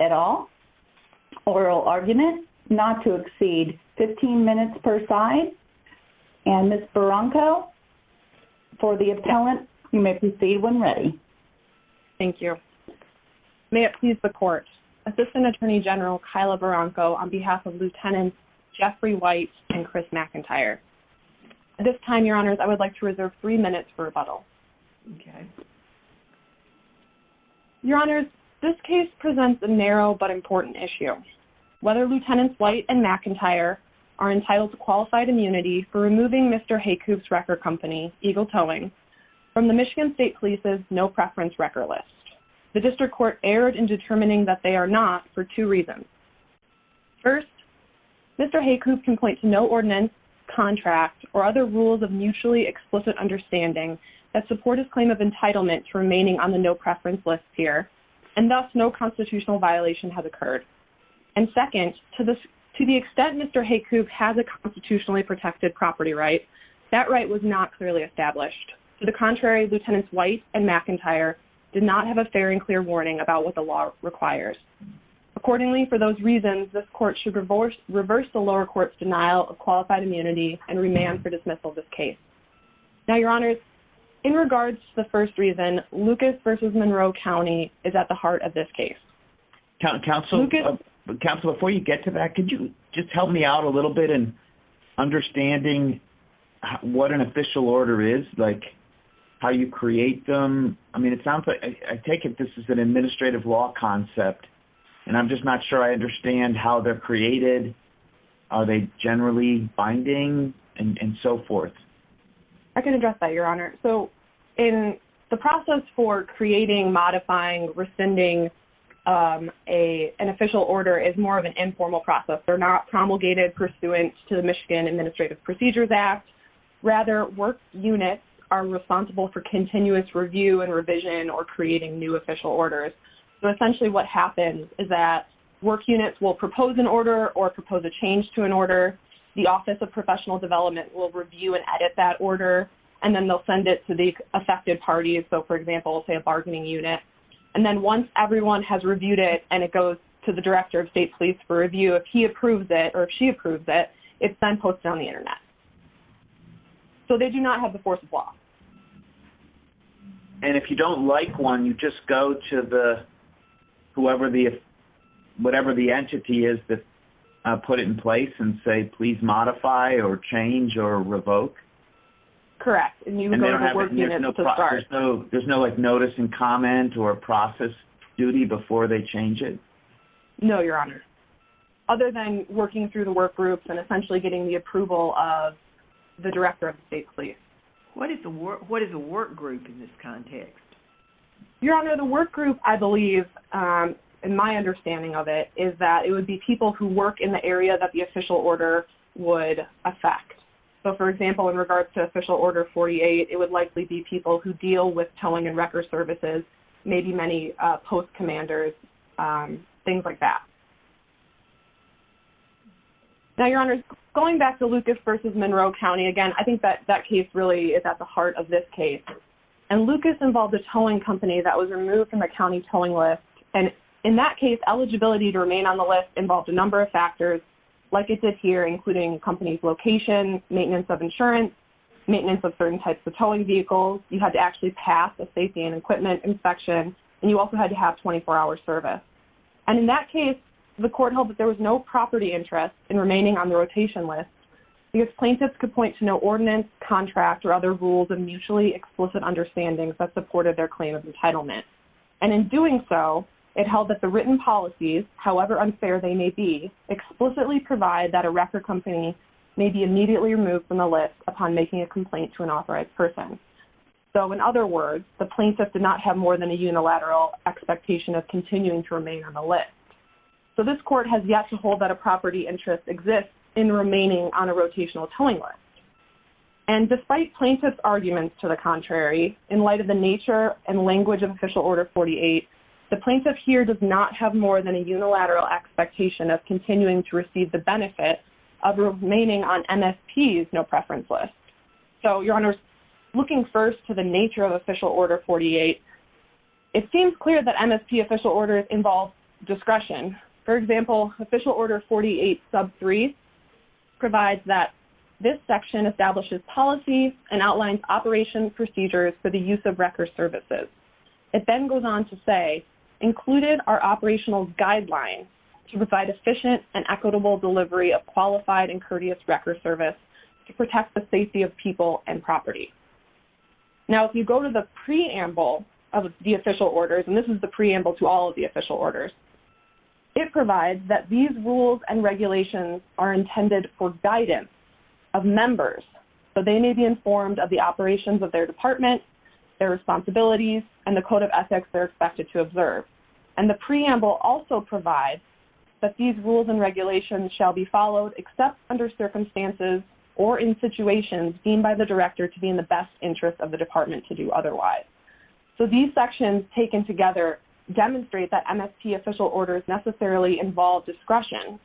at all. Oral argument, not to exceed 15 minutes per side. And Ms. Barranco, for the appellant, you may proceed when ready. Thank you. May it please the Court, Assistant Attorney General Kyla Barranco on behalf of Lieutenants Jeffrey White and Chris McIntyre. At this time, Your Honors, this case presents a narrow but important issue. Whether Lieutenants White and McIntyre are entitled to qualified immunity for removing Mr. Heykoop's record company, Eagle Towing, from the Michigan State Police's no preference record list. The District Court erred in determining that they are not for two reasons. First, Mr. Heykoop can point to no ordinance, contract, or other rules of mutually explicit understanding that support his claim of entitlement to remaining on the no preference list here. And thus, no constitutional violation has occurred. And second, to the extent Mr. Heykoop has a constitutionally protected property right, that right was not clearly established. To the contrary, Lieutenants White and McIntyre did not have a fair and clear warning about what the law requires. Accordingly, for those reasons, this court should reverse the lower court's denial of qualified immunity and remand for dismissal of this case. Now, Your Honors, in regards to the first reason, Lucas versus Monroe County is at the heart of this case. Counselor, before you get to that, could you just help me out a little bit in understanding what an official order is, like how you create them? I mean, it sounds like, I take it this is an administrative law concept, and I'm just not sure I understand how they're created. Are they generally binding and so forth? I can address that, Your Honor. So in the process for creating, modifying, rescinding an official order is more of an informal process. They're not promulgated pursuant to the Michigan Administrative Procedures Act. Rather, work units are responsible for continuous review and revision or creating new official orders. So essentially what happens is that work units will propose an order or propose a change to an order. The Office of Professional Development will review and edit that order, and then they'll send it to the affected parties. So, for example, say a bargaining unit. And then once everyone has reviewed it and it goes to the Director of State Police for review, if he approves it or if she approves it, it's then posted on the Internet. So they do not have the force of law. And if you don't like one, you just go to the, whoever the, whatever the entity is that put it in place and say, please modify or change or revoke? Correct. And you don't have a work unit to start. There's no notice and comment or process duty before they change it? No, Your Honor. Other than working through the work groups and essentially getting the approval of the Director of State Police. What is a work group in this context? Your Honor, the work group, I believe, in my understanding of it, is that it would be people who work in the area that the official order would affect. So, for example, in regards to Official Order 48, it would likely be people who deal with towing and towing. Your Honor, going back to Lucas v. Monroe County, again, I think that that case really is at the heart of this case. And Lucas involved a towing company that was removed from the county towing list. And in that case, eligibility to remain on the list involved a number of factors, like it did here, including company's location, maintenance of insurance, maintenance of certain types of towing vehicles. You had to actually pass a safety and equipment inspection. And you also had to have 24-hour service. And in that case, the court held that there was no property interest in remaining on the rotation list because plaintiffs could point to no ordinance, contract, or other rules of mutually explicit understandings that supported their claim of entitlement. And in doing so, it held that the written policies, however unfair they may be, explicitly provide that a wreck or company may be immediately removed from the list upon making a complaint to an authorized person. So, in other words, the plaintiff did not have more than a unilateral expectation of continuing to remain on the list. This court has yet to hold that a property interest exists in remaining on a rotational towing list. And despite plaintiff's arguments to the contrary, in light of the nature and language of Official Order 48, the plaintiff here does not have more than a unilateral expectation of continuing to receive the benefit of remaining on MSP's no-preference list. So, Your Honors, looking first to the nature of Official Order 48, it seems clear that for example, Official Order 48 sub 3 provides that this section establishes policies and outlines operation procedures for the use of wrecker services. It then goes on to say, included are operational guidelines to provide efficient and equitable delivery of qualified and courteous wrecker service to protect the safety of people and property. Now, if you go to the preamble of the Official Orders, and this is the preamble to all of the Official Orders, it provides that these rules and regulations are intended for guidance of members so they may be informed of the operations of their department, their responsibilities, and the code of ethics they're expected to observe. And the preamble also provides that these rules and regulations shall be followed except under circumstances or in situations deemed by the director to be in the best interest of the department to do otherwise. So, these key Official Orders necessarily involve discretion.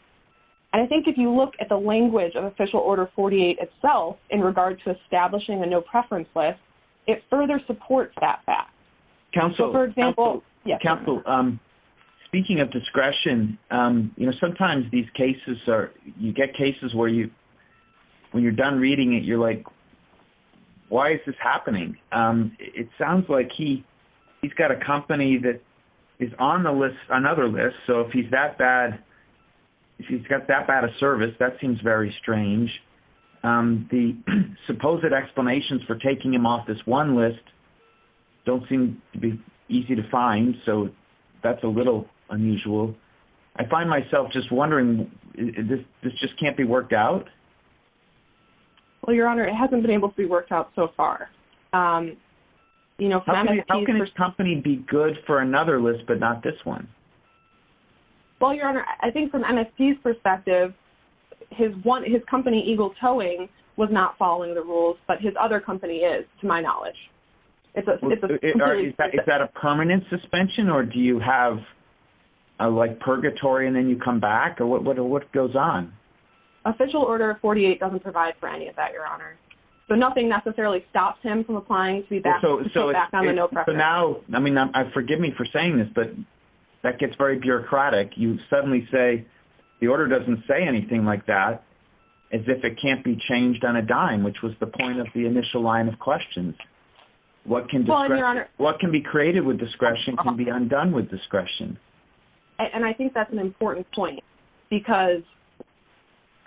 And I think if you look at the language of Official Order 48 itself in regard to establishing a no-preference list, it further supports that fact. So, for example, yes. Council, speaking of discretion, you know, sometimes these cases are, you get cases where you, when you're done reading it, you're like, why is this happening? It sounds like he's got a company that is on the list, another list. So, if he's that bad, if he's got that bad of service, that seems very strange. The supposed explanations for taking him off this one list don't seem to be easy to find. So, that's a little unusual. I find myself just wondering, this just can't be worked out? Well, Your Honor, it hasn't been able to be worked out so far. You know, for that company, he'd be good for another list, but not this one. Well, Your Honor, I think from MSP's perspective, his one, his company, Eagle Towing, was not following the rules, but his other company is, to my knowledge. Is that a permanent suspension, or do you have a, like, purgatory and then you come back? What goes on? Official Order 48 doesn't provide for any of that, Your Honor. So, nothing necessarily So, now, I mean, forgive me for saying this, but that gets very bureaucratic. You suddenly say, the order doesn't say anything like that, as if it can't be changed on a dime, which was the point of the initial line of questions. What can be created with discretion can be undone with discretion. And I think that's an important point, because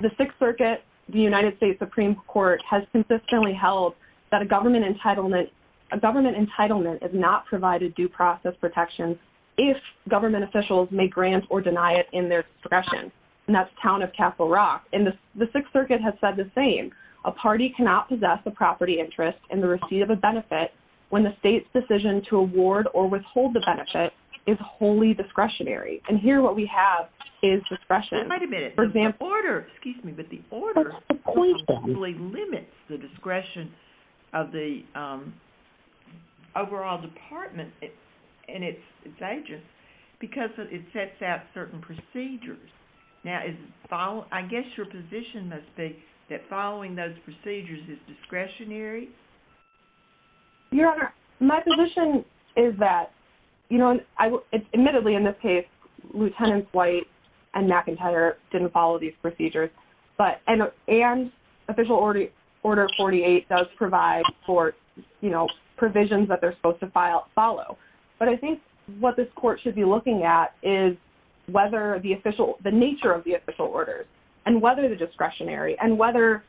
the Sixth Circuit, the United States Supreme Court, has consistently held that a government entitlement, a government entitlement is not provided due process protections if government officials may grant or deny it in their discretion. And that's Town of Castle Rock. And the Sixth Circuit has said the same. A party cannot possess a property interest in the receipt of a benefit when the state's decision to award or withhold the benefit is wholly discretionary. And here, what we have is discretion. Wait a minute. The order, excuse me, but the order completely limits the discretion of the overall department and its agents because it sets out certain procedures. Now, I guess your position must be that following those procedures is discretionary? Your Honor, my position is that, you know, admittedly, in this case, Lieutenants White and McIntyre didn't follow these procedures, and Official Order 48 does provide for, you know, provisions that they're supposed to follow. But I think what this Court should be looking at is whether the nature of the official orders and whether the discretionary and whether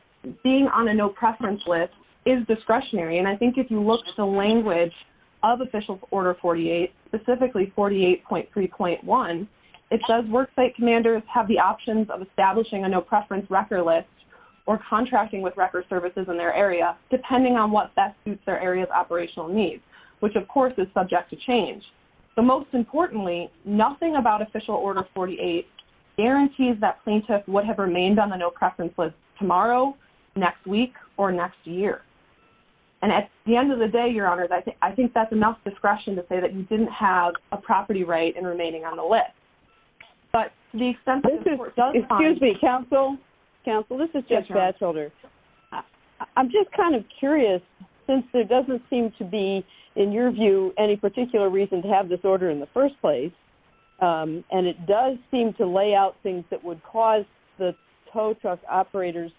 being on a no-preference list is discretionary. And I think if you look at the language of Official Order 48, specifically 48.3.1, it says worksite commanders have the options of establishing a no-preference record list or contracting with record services in their area, depending on what best suits their area's operational needs, which of course is subject to change. So most importantly, nothing about Official Order 48 guarantees that plaintiff would have remained on the no-preference list tomorrow, next week, or next year. And at the end of the day, Your Honor, I think that's enough discretion to say that you didn't have a property right in remaining on the list. But the extent of the Court's time... This is... Excuse me, Counsel. Counsel, this is Judge Batchelder. I'm just kind of curious, since there doesn't seem to be, in your view, any particular reason to have this order in the first place, and it does seem to lay out things that would cause the tow truck operators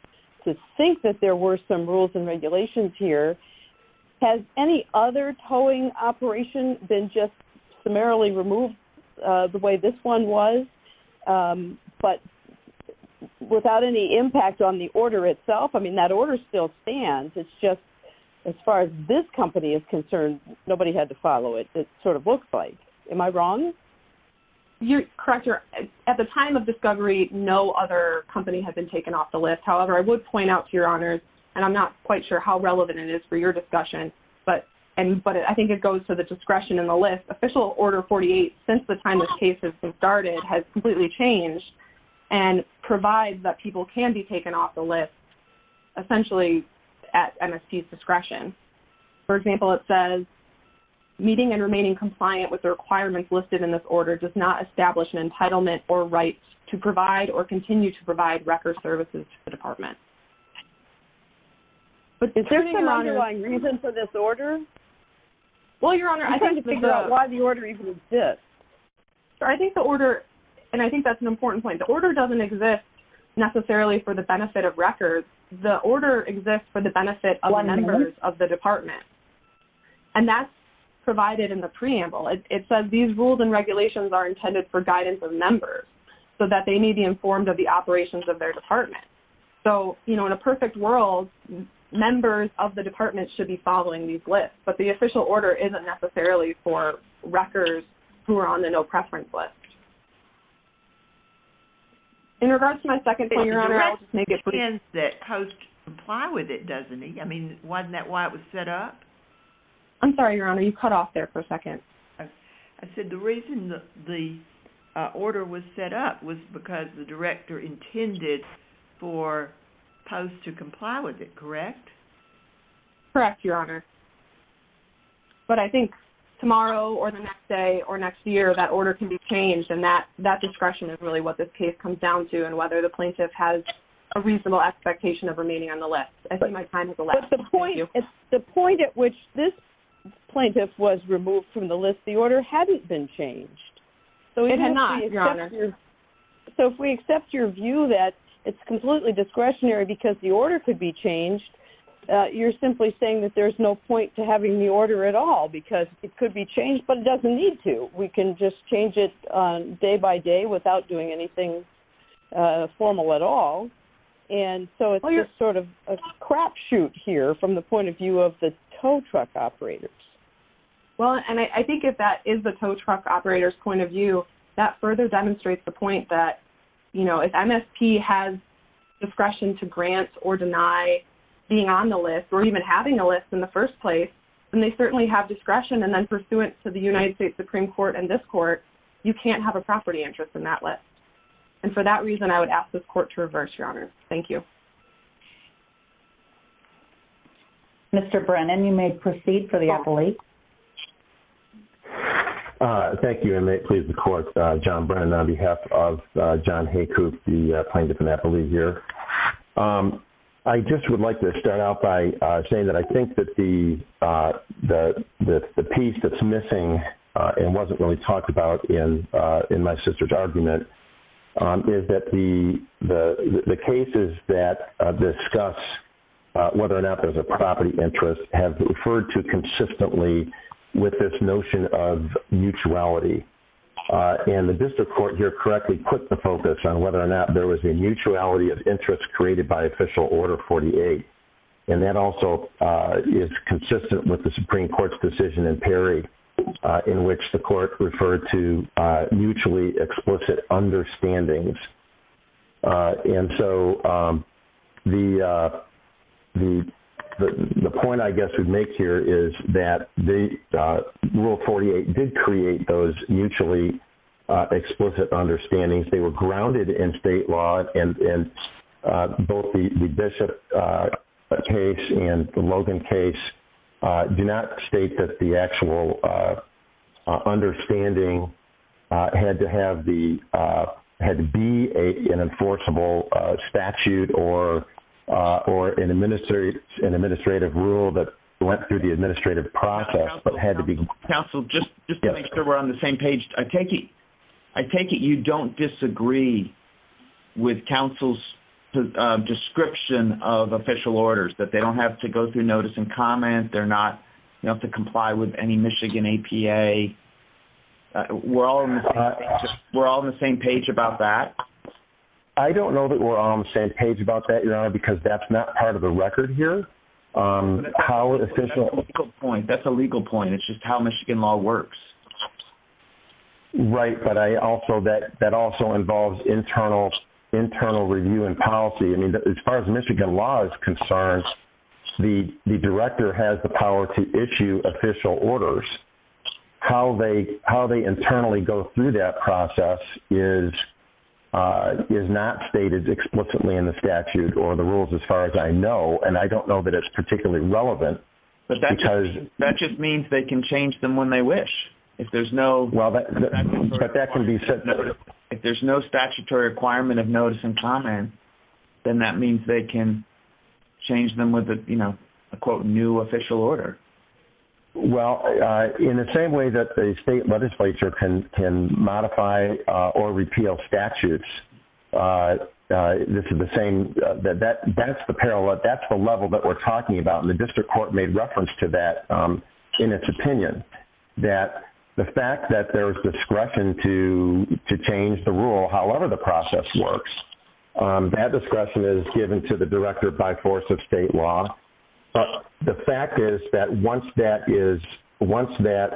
to think that there were some rules and regulations here. Has any other towing operation been just summarily removed the way this one was, but without any impact on the order itself? I mean, that order still stands. It's just, as far as this company is concerned, nobody had to follow it, it sort of looks like. Am I wrong? You're correct, Your Honor. At the time of discovery, no other company has been taken off the list. However, I would point out to Your Honors, and I'm not quite sure how relevant it is for your discussion, but I think it goes to the discretion in the list. Official Order 48, since the time this case has started, has completely changed and provides that people can be taken off the list, essentially at MSP's discretion. For example, it says, meeting and remaining compliant with the requirements listed in this order does not establish an entitlement or right to provide or continue to provide record services to the department. But is there some underlying reason for this order? Well, Your Honor, I think the order, and I think that's an important point. The order doesn't exist necessarily for the benefit of records. The order exists for the benefit of the members of the department. And that's provided in the preamble. It says, these rules and regulations are intended for guidance of members so that they may be informed of the operations of their department. So, you know, in a perfect world, members of the department should be following these lists, but the official order isn't necessarily for records who are on the no preference list. In regards to my second point, Your Honor, I'll just make it pretty clear. It depends that POST comply with it, doesn't it? I mean, wasn't that why it was set up? I'm sorry, Your Honor, you cut off there for a second. I said the reason the order was set up was because the director intended for POST to comply with it, correct? Correct, Your Honor. But I think tomorrow or the next day or next year, that order can be changed and that discretion is really what this case comes down to and whether the plaintiff has a reasonable expectation of remaining on the list. I think my time has elapsed. Thank you. The point at which this plaintiff was removed from the list, the order hadn't been changed. It had not, Your Honor. So if we accept your view that it's completely discretionary because the order could be changed, you're simply saying that there's no point to having the order at all because it could be changed, but it doesn't need to. We can just change it day by day without doing anything formal at all. And so it's just sort of a crapshoot here from the point of view of the tow truck operators. Well, and I think if that is the tow truck operator's point of view, that further demonstrates the point that, you know, if MSP has discretion to grant or deny being on the list or even having a list in the first place, then they certainly have discretion. And then pursuant to the United States Supreme Court and this court, you can't have a property interest in that list. And for that reason, I would ask this court to reverse, Your Honor. Thank you. Mr. Brennan, you may proceed for the appellate. Thank you. And may it please the court, John Brennan on behalf of John Haycoop, the plaintiff and appellate here. I just would like to start out by saying that I think that the piece that's missing and wasn't really talked about in my sister's argument is that the cases that discuss whether or not there's a property interest have referred to consistently with this notion of mutuality. And the district court here correctly put the focus on whether or not there was a mutuality of interest created by Official Order 48. And that also is consistent with the Supreme Court's decision in Perry in which the court referred to mutually explicit understandings. And so the point I guess we'd make here is that the Rule 48 did create those mutually explicit understandings. They were grounded in state law and both the Bishop case and the Logan case do not state that the actual understanding had to have the appropriate had to be an enforceable statute or an administrative rule that went through the administrative process but had to be... Counsel, just to make sure we're on the same page, I take it you don't disagree with counsel's description of official orders, that they don't have to go through notice and comment, they're not to comply with any Michigan APA. We're all on the same page about that? I don't know that we're on the same page about that, Your Honor, because that's not part of the record here. That's a legal point. That's a legal point. It's just how Michigan law works. Right, but that also involves internal review and policy. As far as Michigan law is concerned, the director has the power to issue official orders. How they internally go through that process is not stated explicitly in the statute or the rules as far as I know, and I don't know that it's particularly relevant because... That just means they can change them when they wish. If there's no statutory requirement of notice and comment, then that means they can change them with a, quote, new official order. Well, in the same way that the state legislature can modify or repeal statutes, this is the same... That's the parallel. That's the level that we're talking about, and the district court made reference to that in its opinion, that the fact that there's discretion to change the rule, however the process works, that discretion is given to the director by force of state law. The fact is that once that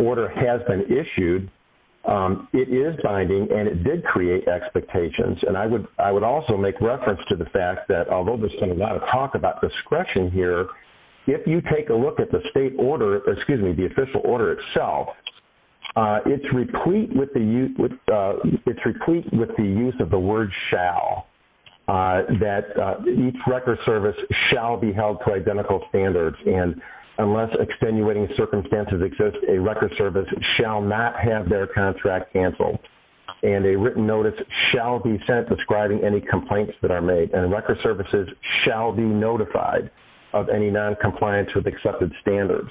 order has been issued, it is binding, and it did create expectations, and I would also make reference to the fact that, although there's been a lot of talk about discretion here, if you take a look at the state order, excuse me, the official order itself, it's replete with the use of the word shall, that each record service shall be held to identical standards, and unless extenuating circumstances exist, a record service shall not have their contract canceled, and a written notice shall be sent describing any complaints that are made, and record services shall be notified of any noncompliance with the record service.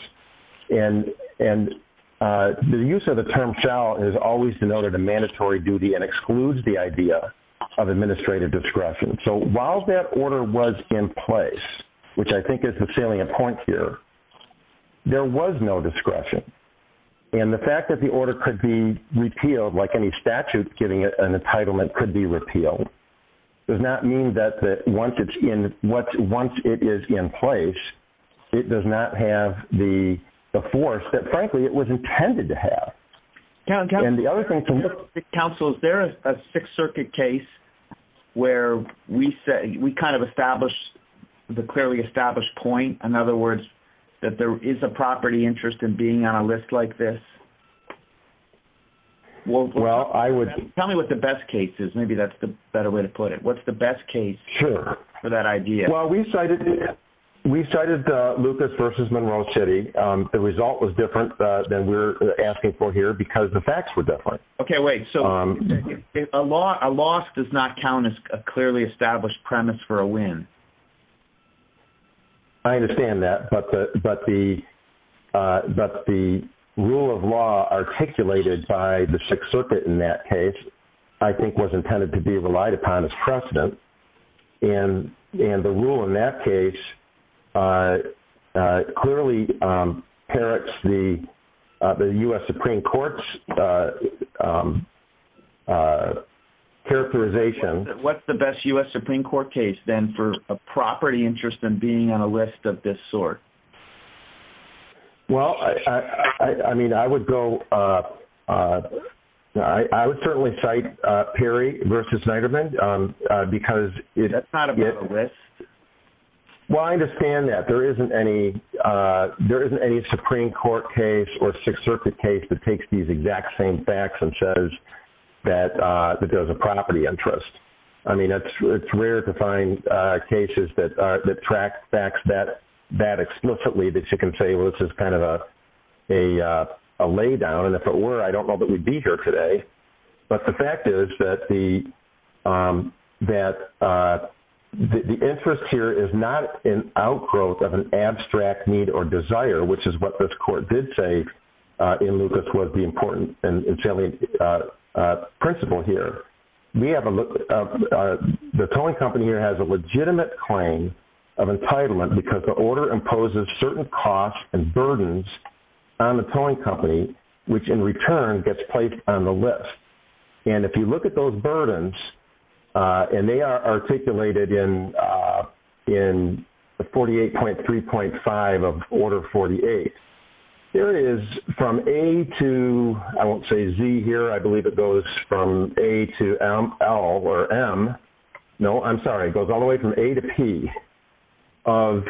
The use of the term shall is always denoted a mandatory duty and excludes the idea of administrative discretion, so while that order was in place, which I think is the salient point here, there was no discretion, and the fact that the order could be repealed like any statute giving it an entitlement could be repealed, does not mean that once it is in place, it does not have the force that, frankly, it was intended to have, and the other thing to note... Counsel, is there a Sixth Circuit case where we kind of established the clearly established point, in other words, that there is a property interest in being on a list like this? Well, I would... Tell me what the best case is, maybe that's the better way to put it. What's the best case for that idea? Well, we cited Lucas versus Monroe City. The result was different than we're asking for here because the facts were different. Okay, wait, so a loss does not count as a clearly established premise for a win. I understand that, but the rule of law articulated by the Sixth Circuit in that case, I think was intended to be relied upon as precedent, and the rule in that case clearly parrots the U.S. Supreme Court's characterization. What's the best U.S. Supreme Court case, then, for a property interest in being on a list of this sort? Well, I mean, I would go... I would certainly cite Perry versus Neiderman because it... That's not a real list. Well, I understand that. There isn't any Supreme Court case or Sixth Circuit case that takes these exact same facts and shows that there's a property interest. I mean, it's rare to see explicitly that you can say, well, this is kind of a laydown, and if it were, I don't know that we'd be here today. But the fact is that the interest here is not an outgrowth of an abstract need or desire, which is what this court did say in Lucas was the important and salient principle here. We have a... The tolling company here has a legitimate claim of entitlement because the order imposes certain costs and burdens on the tolling company, which in return gets placed on the list. And if you look at those burdens, and they are articulated in 48.3.5 of Order 48, there is from A to... I won't say Z here. I believe it goes from A to Z to ML or M. No, I'm sorry. It goes all the way from A to P of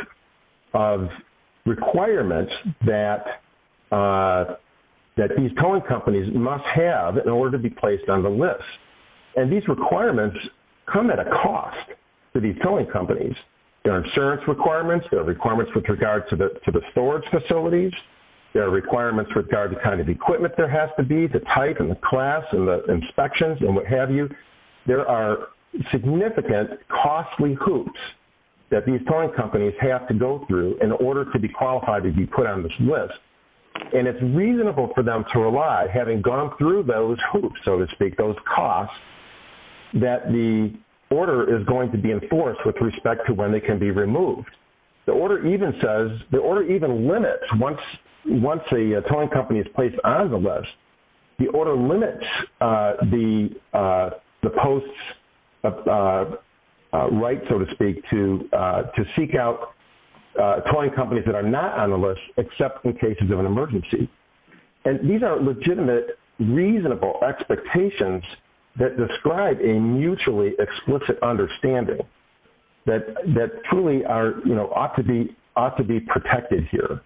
requirements that these tolling companies must have in order to be placed on the list. And these requirements come at a cost to these tolling companies. There are insurance requirements. There are requirements with regard to the storage facilities. There are requirements with regard to the kind of equipment there has to be, the type and the class and the value. There are significant costly hoops that these tolling companies have to go through in order to be qualified to be put on this list. And it's reasonable for them to rely, having gone through those hoops, so to speak, those costs, that the order is going to be enforced with respect to when they can be removed. The order even says... The order even limits, once a tolling company is placed on the list, the order limits the tolling post's right, so to speak, to seek out tolling companies that are not on the list except in cases of an emergency. And these are legitimate, reasonable expectations that describe a mutually explicit understanding that truly ought to be protected here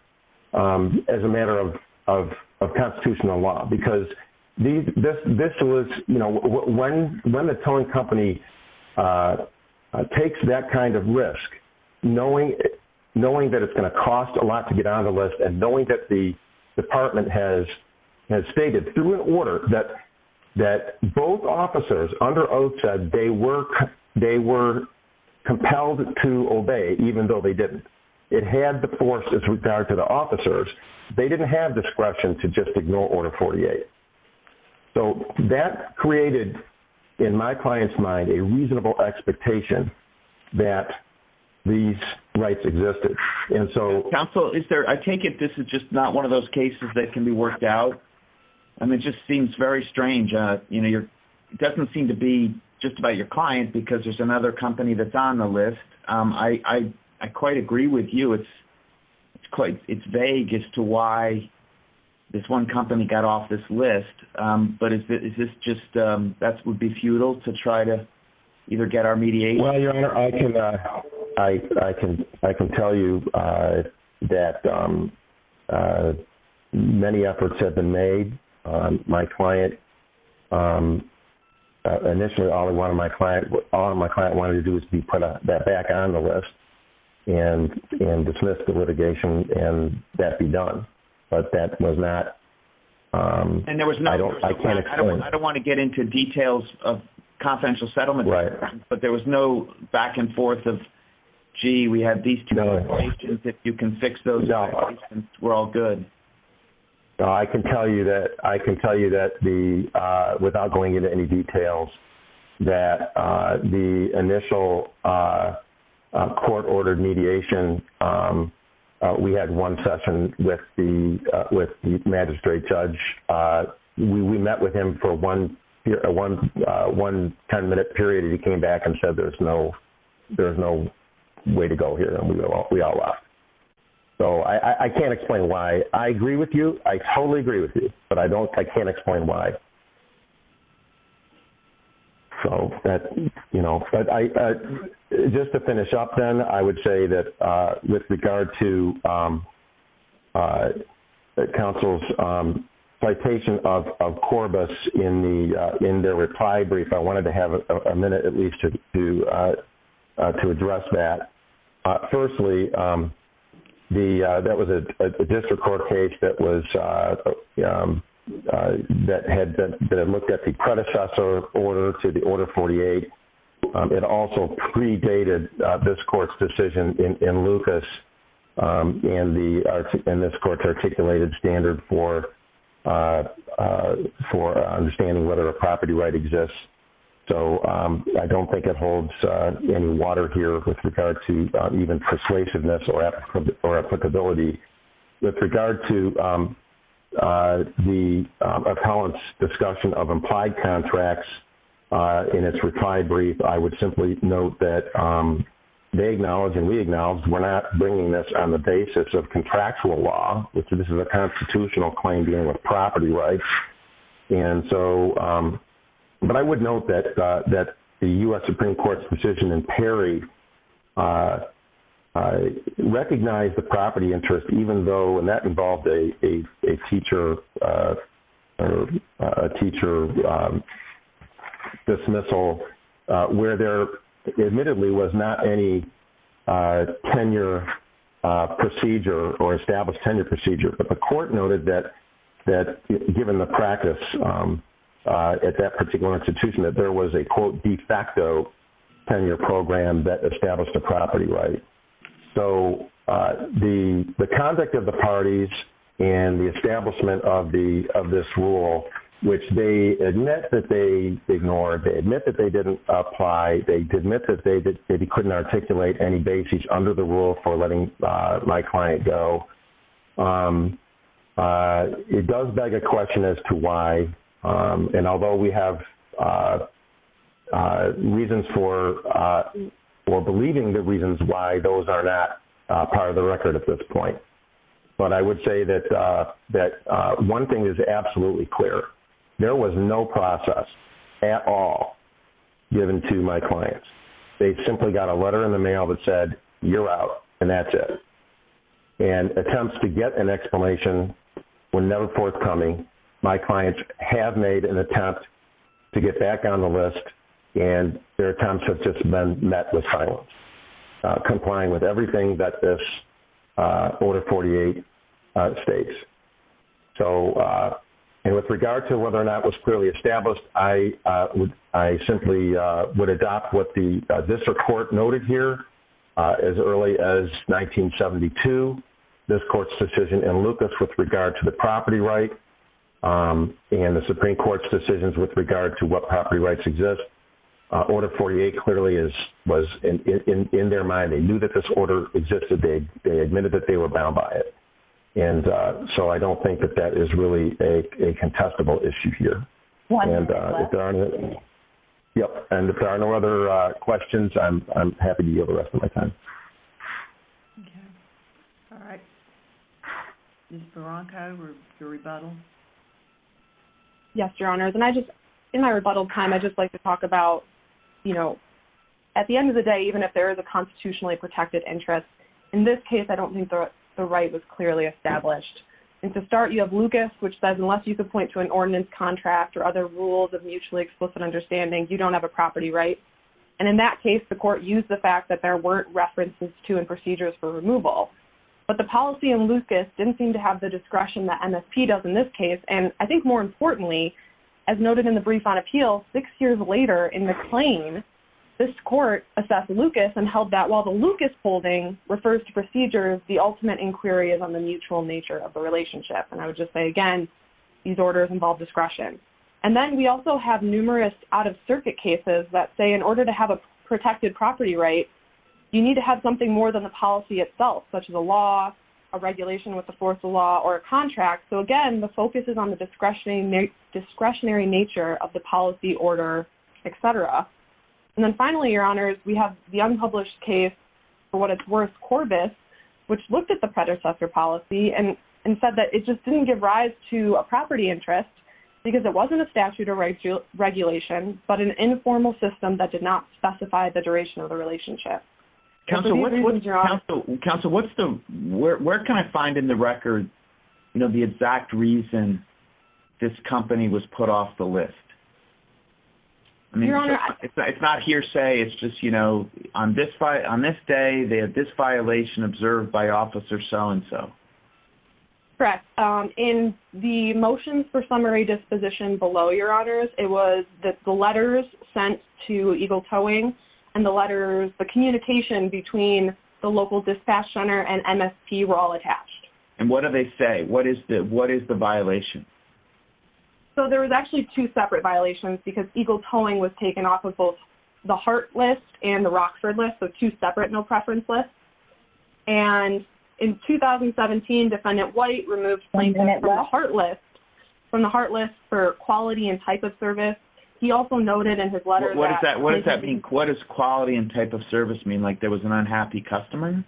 as a matter of constitutional law. Because this was... When the tolling company takes that kind of risk, knowing that it's going to cost a lot to get on the list and knowing that the department has stated through an order that both officers under oath said they were compelled to obey, even though they didn't. It had the force as regard to the officers. They didn't have discretion to just ignore Order 48. So that created, in my client's mind, a reasonable expectation that these rights existed. And so... Council, is there... I take it this is just not one of those cases that can be worked out? I mean, it just seems very strange. You know, you're... It doesn't seem to be just about your client because there's another company that's on the list. I quite agree with you. It's quite... It's vague as to why this one company got off this list. But is this just... That would be futile to try to either get our mediation... Well, Your Honor, I can tell you that many efforts have been made. My client... Initially all my client wanted to do was to be put back on the list and dismiss the litigation and that be done. But that was not... I can't explain. And there was no... I don't want to get into details of confidential settlement, but there was no back and forth of, gee, we have these two regulations, if you can fix those, we're all good. I can tell you that the... Without going into any details, that the initial court-ordered mediation, we had one session with the magistrate judge. We met with him for one 10-minute period and he came back and said, there's no way to go here, and we all left. So I can't explain why. I agree with you, I totally agree with you, but I don't... I can't explain why. So that... But just to finish up then, I would say that with regard to counsel's citation of Corbis in their reply brief, I wanted to have a minute at least to address that. Firstly, the... That was a district court case that was... That had been looked at the predecessor order to the Order 48. It also predated this court's decision in Lucas and this court's articulated standard for understanding whether a property right exists. So I don't think that holds any water here with regard to even persuasiveness or applicability. With regard to the appellant's discussion of implied contracts in its reply brief, I would simply note that they acknowledge and we acknowledge we're not bringing this on the basis of contractual law, which this is a constitutional claim dealing with property rights. And so... But I would note that the U.S. Supreme Court's decision in Perry recognized the property interest even though... And that involved a teacher dismissal where there admittedly was not any tenure procedure or established tenure procedure. But the court noted that given the practice at that particular institution, that there was a, quote, de facto tenure program that established a property right. So the conduct of the parties and the establishment of this rule, which they admit that they ignored, they admit that they didn't apply, they admit that they maybe couldn't articulate any basis under the rule for letting my client go. It does beg a question as to why. And although we have reasons for... Or believing the reasons why those are not part of the record at this point. But I would say that one thing is absolutely clear. There was no process at all given to my clients. They simply got a letter in the mail that said, you're out, and that's it. And attempts to get an explanation were never forthcoming. My clients have made an attempt to get back on the list, and their attempts have just been met with silence, complying with everything that this Order 48 states. So... And with regard to whether or not it was clearly established, I simply would adopt what the district court noted here. As early as 1972, this court's decision in Lucas with regard to the property right, and the Supreme Court's decisions with regard to what property rights exist, Order 48 clearly was in their mind. They knew that this order existed. They admitted that they were bound by it. And so I don't think that that is really a contestable issue here. And if there are no other questions, I'm happy to give the rest of my time. All right. Ms. Barranco, your rebuttal? Yes, Your Honors. In my rebuttal time, I'd just like to talk about, you know, at the end of the day, even if there is a constitutionally protected interest, in this case, I don't think the right was clearly established. And to start, you have Lucas, which says unless you could point to an ordinance contract or other rules of mutually explicit understanding, you don't have a property right. And in that case, the court used the fact that there weren't references to and procedures for removal. But the policy in Lucas didn't seem to have the discretion that MSP does in this case. And I think more importantly, as noted in the brief on appeal, six years later in the claim, this court assessed Lucas and held that while the Lucas holding refers to procedures, the ultimate inquiry is on the mutual nature of a relationship. And I would just say, again, these orders involve discretion. And then we also have numerous out-of-circuit cases that say in order to have a protected property right, you need to have something more than the policy itself, such as a law, a regulation with the force of law, or a contract. So again, the focus is on the discretionary nature of the policy order, etc. And then finally, Your Honors, we have the unpublished case for what it's worth, Corbis, which looked at the predecessor policy and said that it just didn't give rise to a property interest, because it wasn't a statute or regulation, but an informal system that did not specify the duration of the relationship. Counsel, where can I find in the record, you know, the exact reason this company was put off the list? It's not hearsay. It's just, you know, on this day, they had this violation observed by officer so-and-so. Correct. In the motions for summary disposition below your honors, it was that the letters sent to Eagle Towing and the letters, the communication between the local dispatch center and MST were all attached. And what do they say? What is the violation? So there was actually two separate violations, because Eagle Towing was taken off of both the Hart List and the Rockford List, so two separate no-preference lists. And in 2017, Defendant White removed claims from the Hart List for quality and type of service. He also noted in his letters that... What does that mean? What does quality and type of service mean? Like there was an unhappy customer?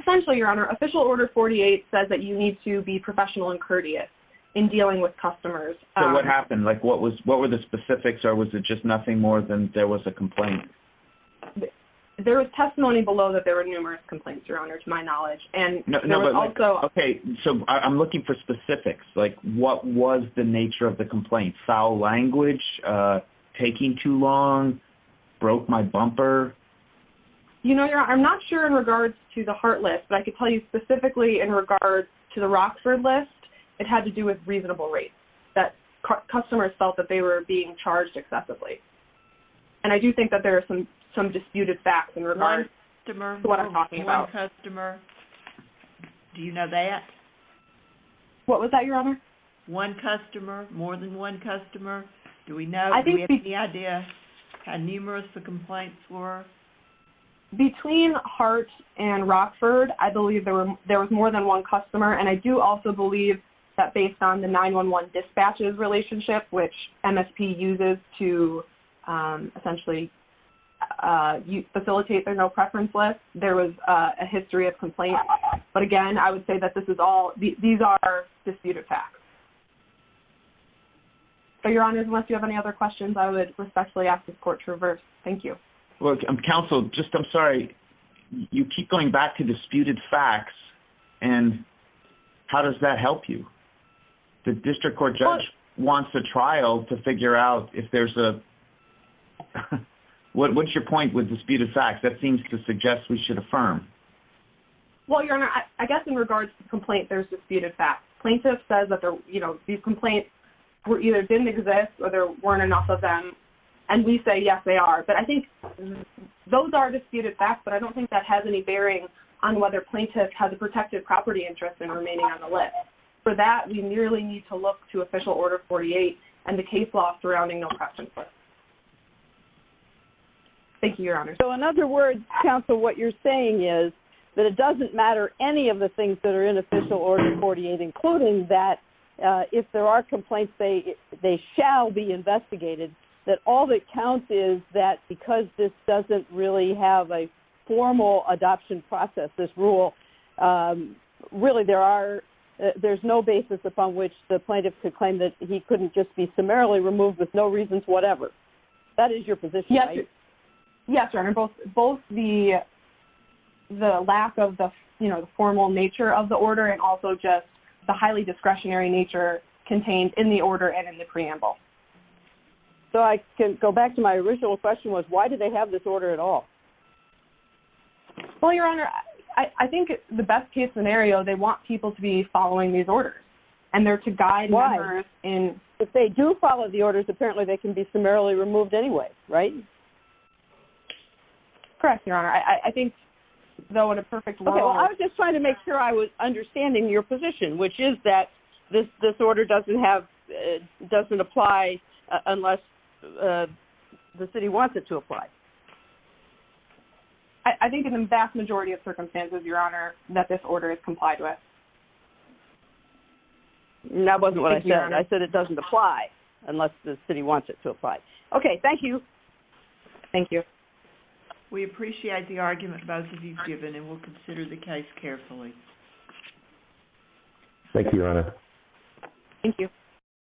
Essentially, Your Honor, Official Order 48 says that you need to be professional and courteous in dealing with customers. So what happened? Like what was, what were the specifics or was it just nothing more than there was a complaint? There was testimony below that there were numerous complaints, Your Honor, to my knowledge. And there was also... Okay, so I'm looking for specifics. Like what was the nature of the complaint? Foul language? Taking too long? Broke my bumper? You know, Your Honor, I'm not sure in the Hart List, but I can tell you specifically in regards to the Rockford List, it had to do with reasonable rates, that customers felt that they were being charged excessively. And I do think that there are some disputed facts in regards to what I'm talking about. One customer. Do you know that? What was that, Your Honor? One customer, more than one customer. Do we know, do we have any idea how numerous the complaints were? Between Hart and Rockford, I believe there was more than one customer. And I do also believe that based on the 911 dispatches relationship, which MSP uses to essentially facilitate their no preference list, there was a history of complaints. But again, I would say that this is all, these are disputed facts. So, Your Honor, unless you have any other questions, I would respectfully ask the court to reverse. Thank you. Counsel, just, I'm sorry, you keep going back to disputed facts, and how does that help you? The district court judge wants a trial to figure out if there's a... What's your point with disputed facts? That seems to suggest we should affirm. Well, Your Honor, I guess in regards to the complaint, there's disputed facts. Plaintiff says that there was a dispute, these complaints either didn't exist or there weren't enough of them. And we say, yes, they are. But I think those are disputed facts, but I don't think that has any bearing on whether plaintiff has a protected property interest in remaining on the list. For that, we merely need to look to Official Order 48 and the case law surrounding no preference list. Thank you, Your Honor. So, in other words, Counsel, what you're saying is that it doesn't matter any of things that are in Official Order 48, including that if there are complaints, they shall be investigated. That all that counts is that because this doesn't really have a formal adoption process, this rule, really there are... There's no basis upon which the plaintiff could claim that he couldn't just be summarily removed with no reasons, whatever. That is your position, right? Yes, Your Honor. Both the lack of the formal nature of the order and also just the highly discretionary nature contained in the order and in the preamble. So, I can go back to my original question was, why do they have this order at all? Well, Your Honor, I think the best case scenario, they want people to be following these orders and they're to guide members in... Why? If they do follow the orders, apparently they can be summarily removed anyway, right? Correct, Your Honor. I think though in a perfect world... Okay. Well, I was just trying to make sure I was understanding your position, which is that this order doesn't apply unless the city wants it to apply. I think in the vast majority of circumstances, Your Honor, that this order is complied with. No, that wasn't what I said. I said it doesn't apply unless the city wants it to apply. Okay. Thank you. Thank you. We appreciate the argument both of you have given and we'll consider the case carefully. Thank you, Your Honor. Thank you.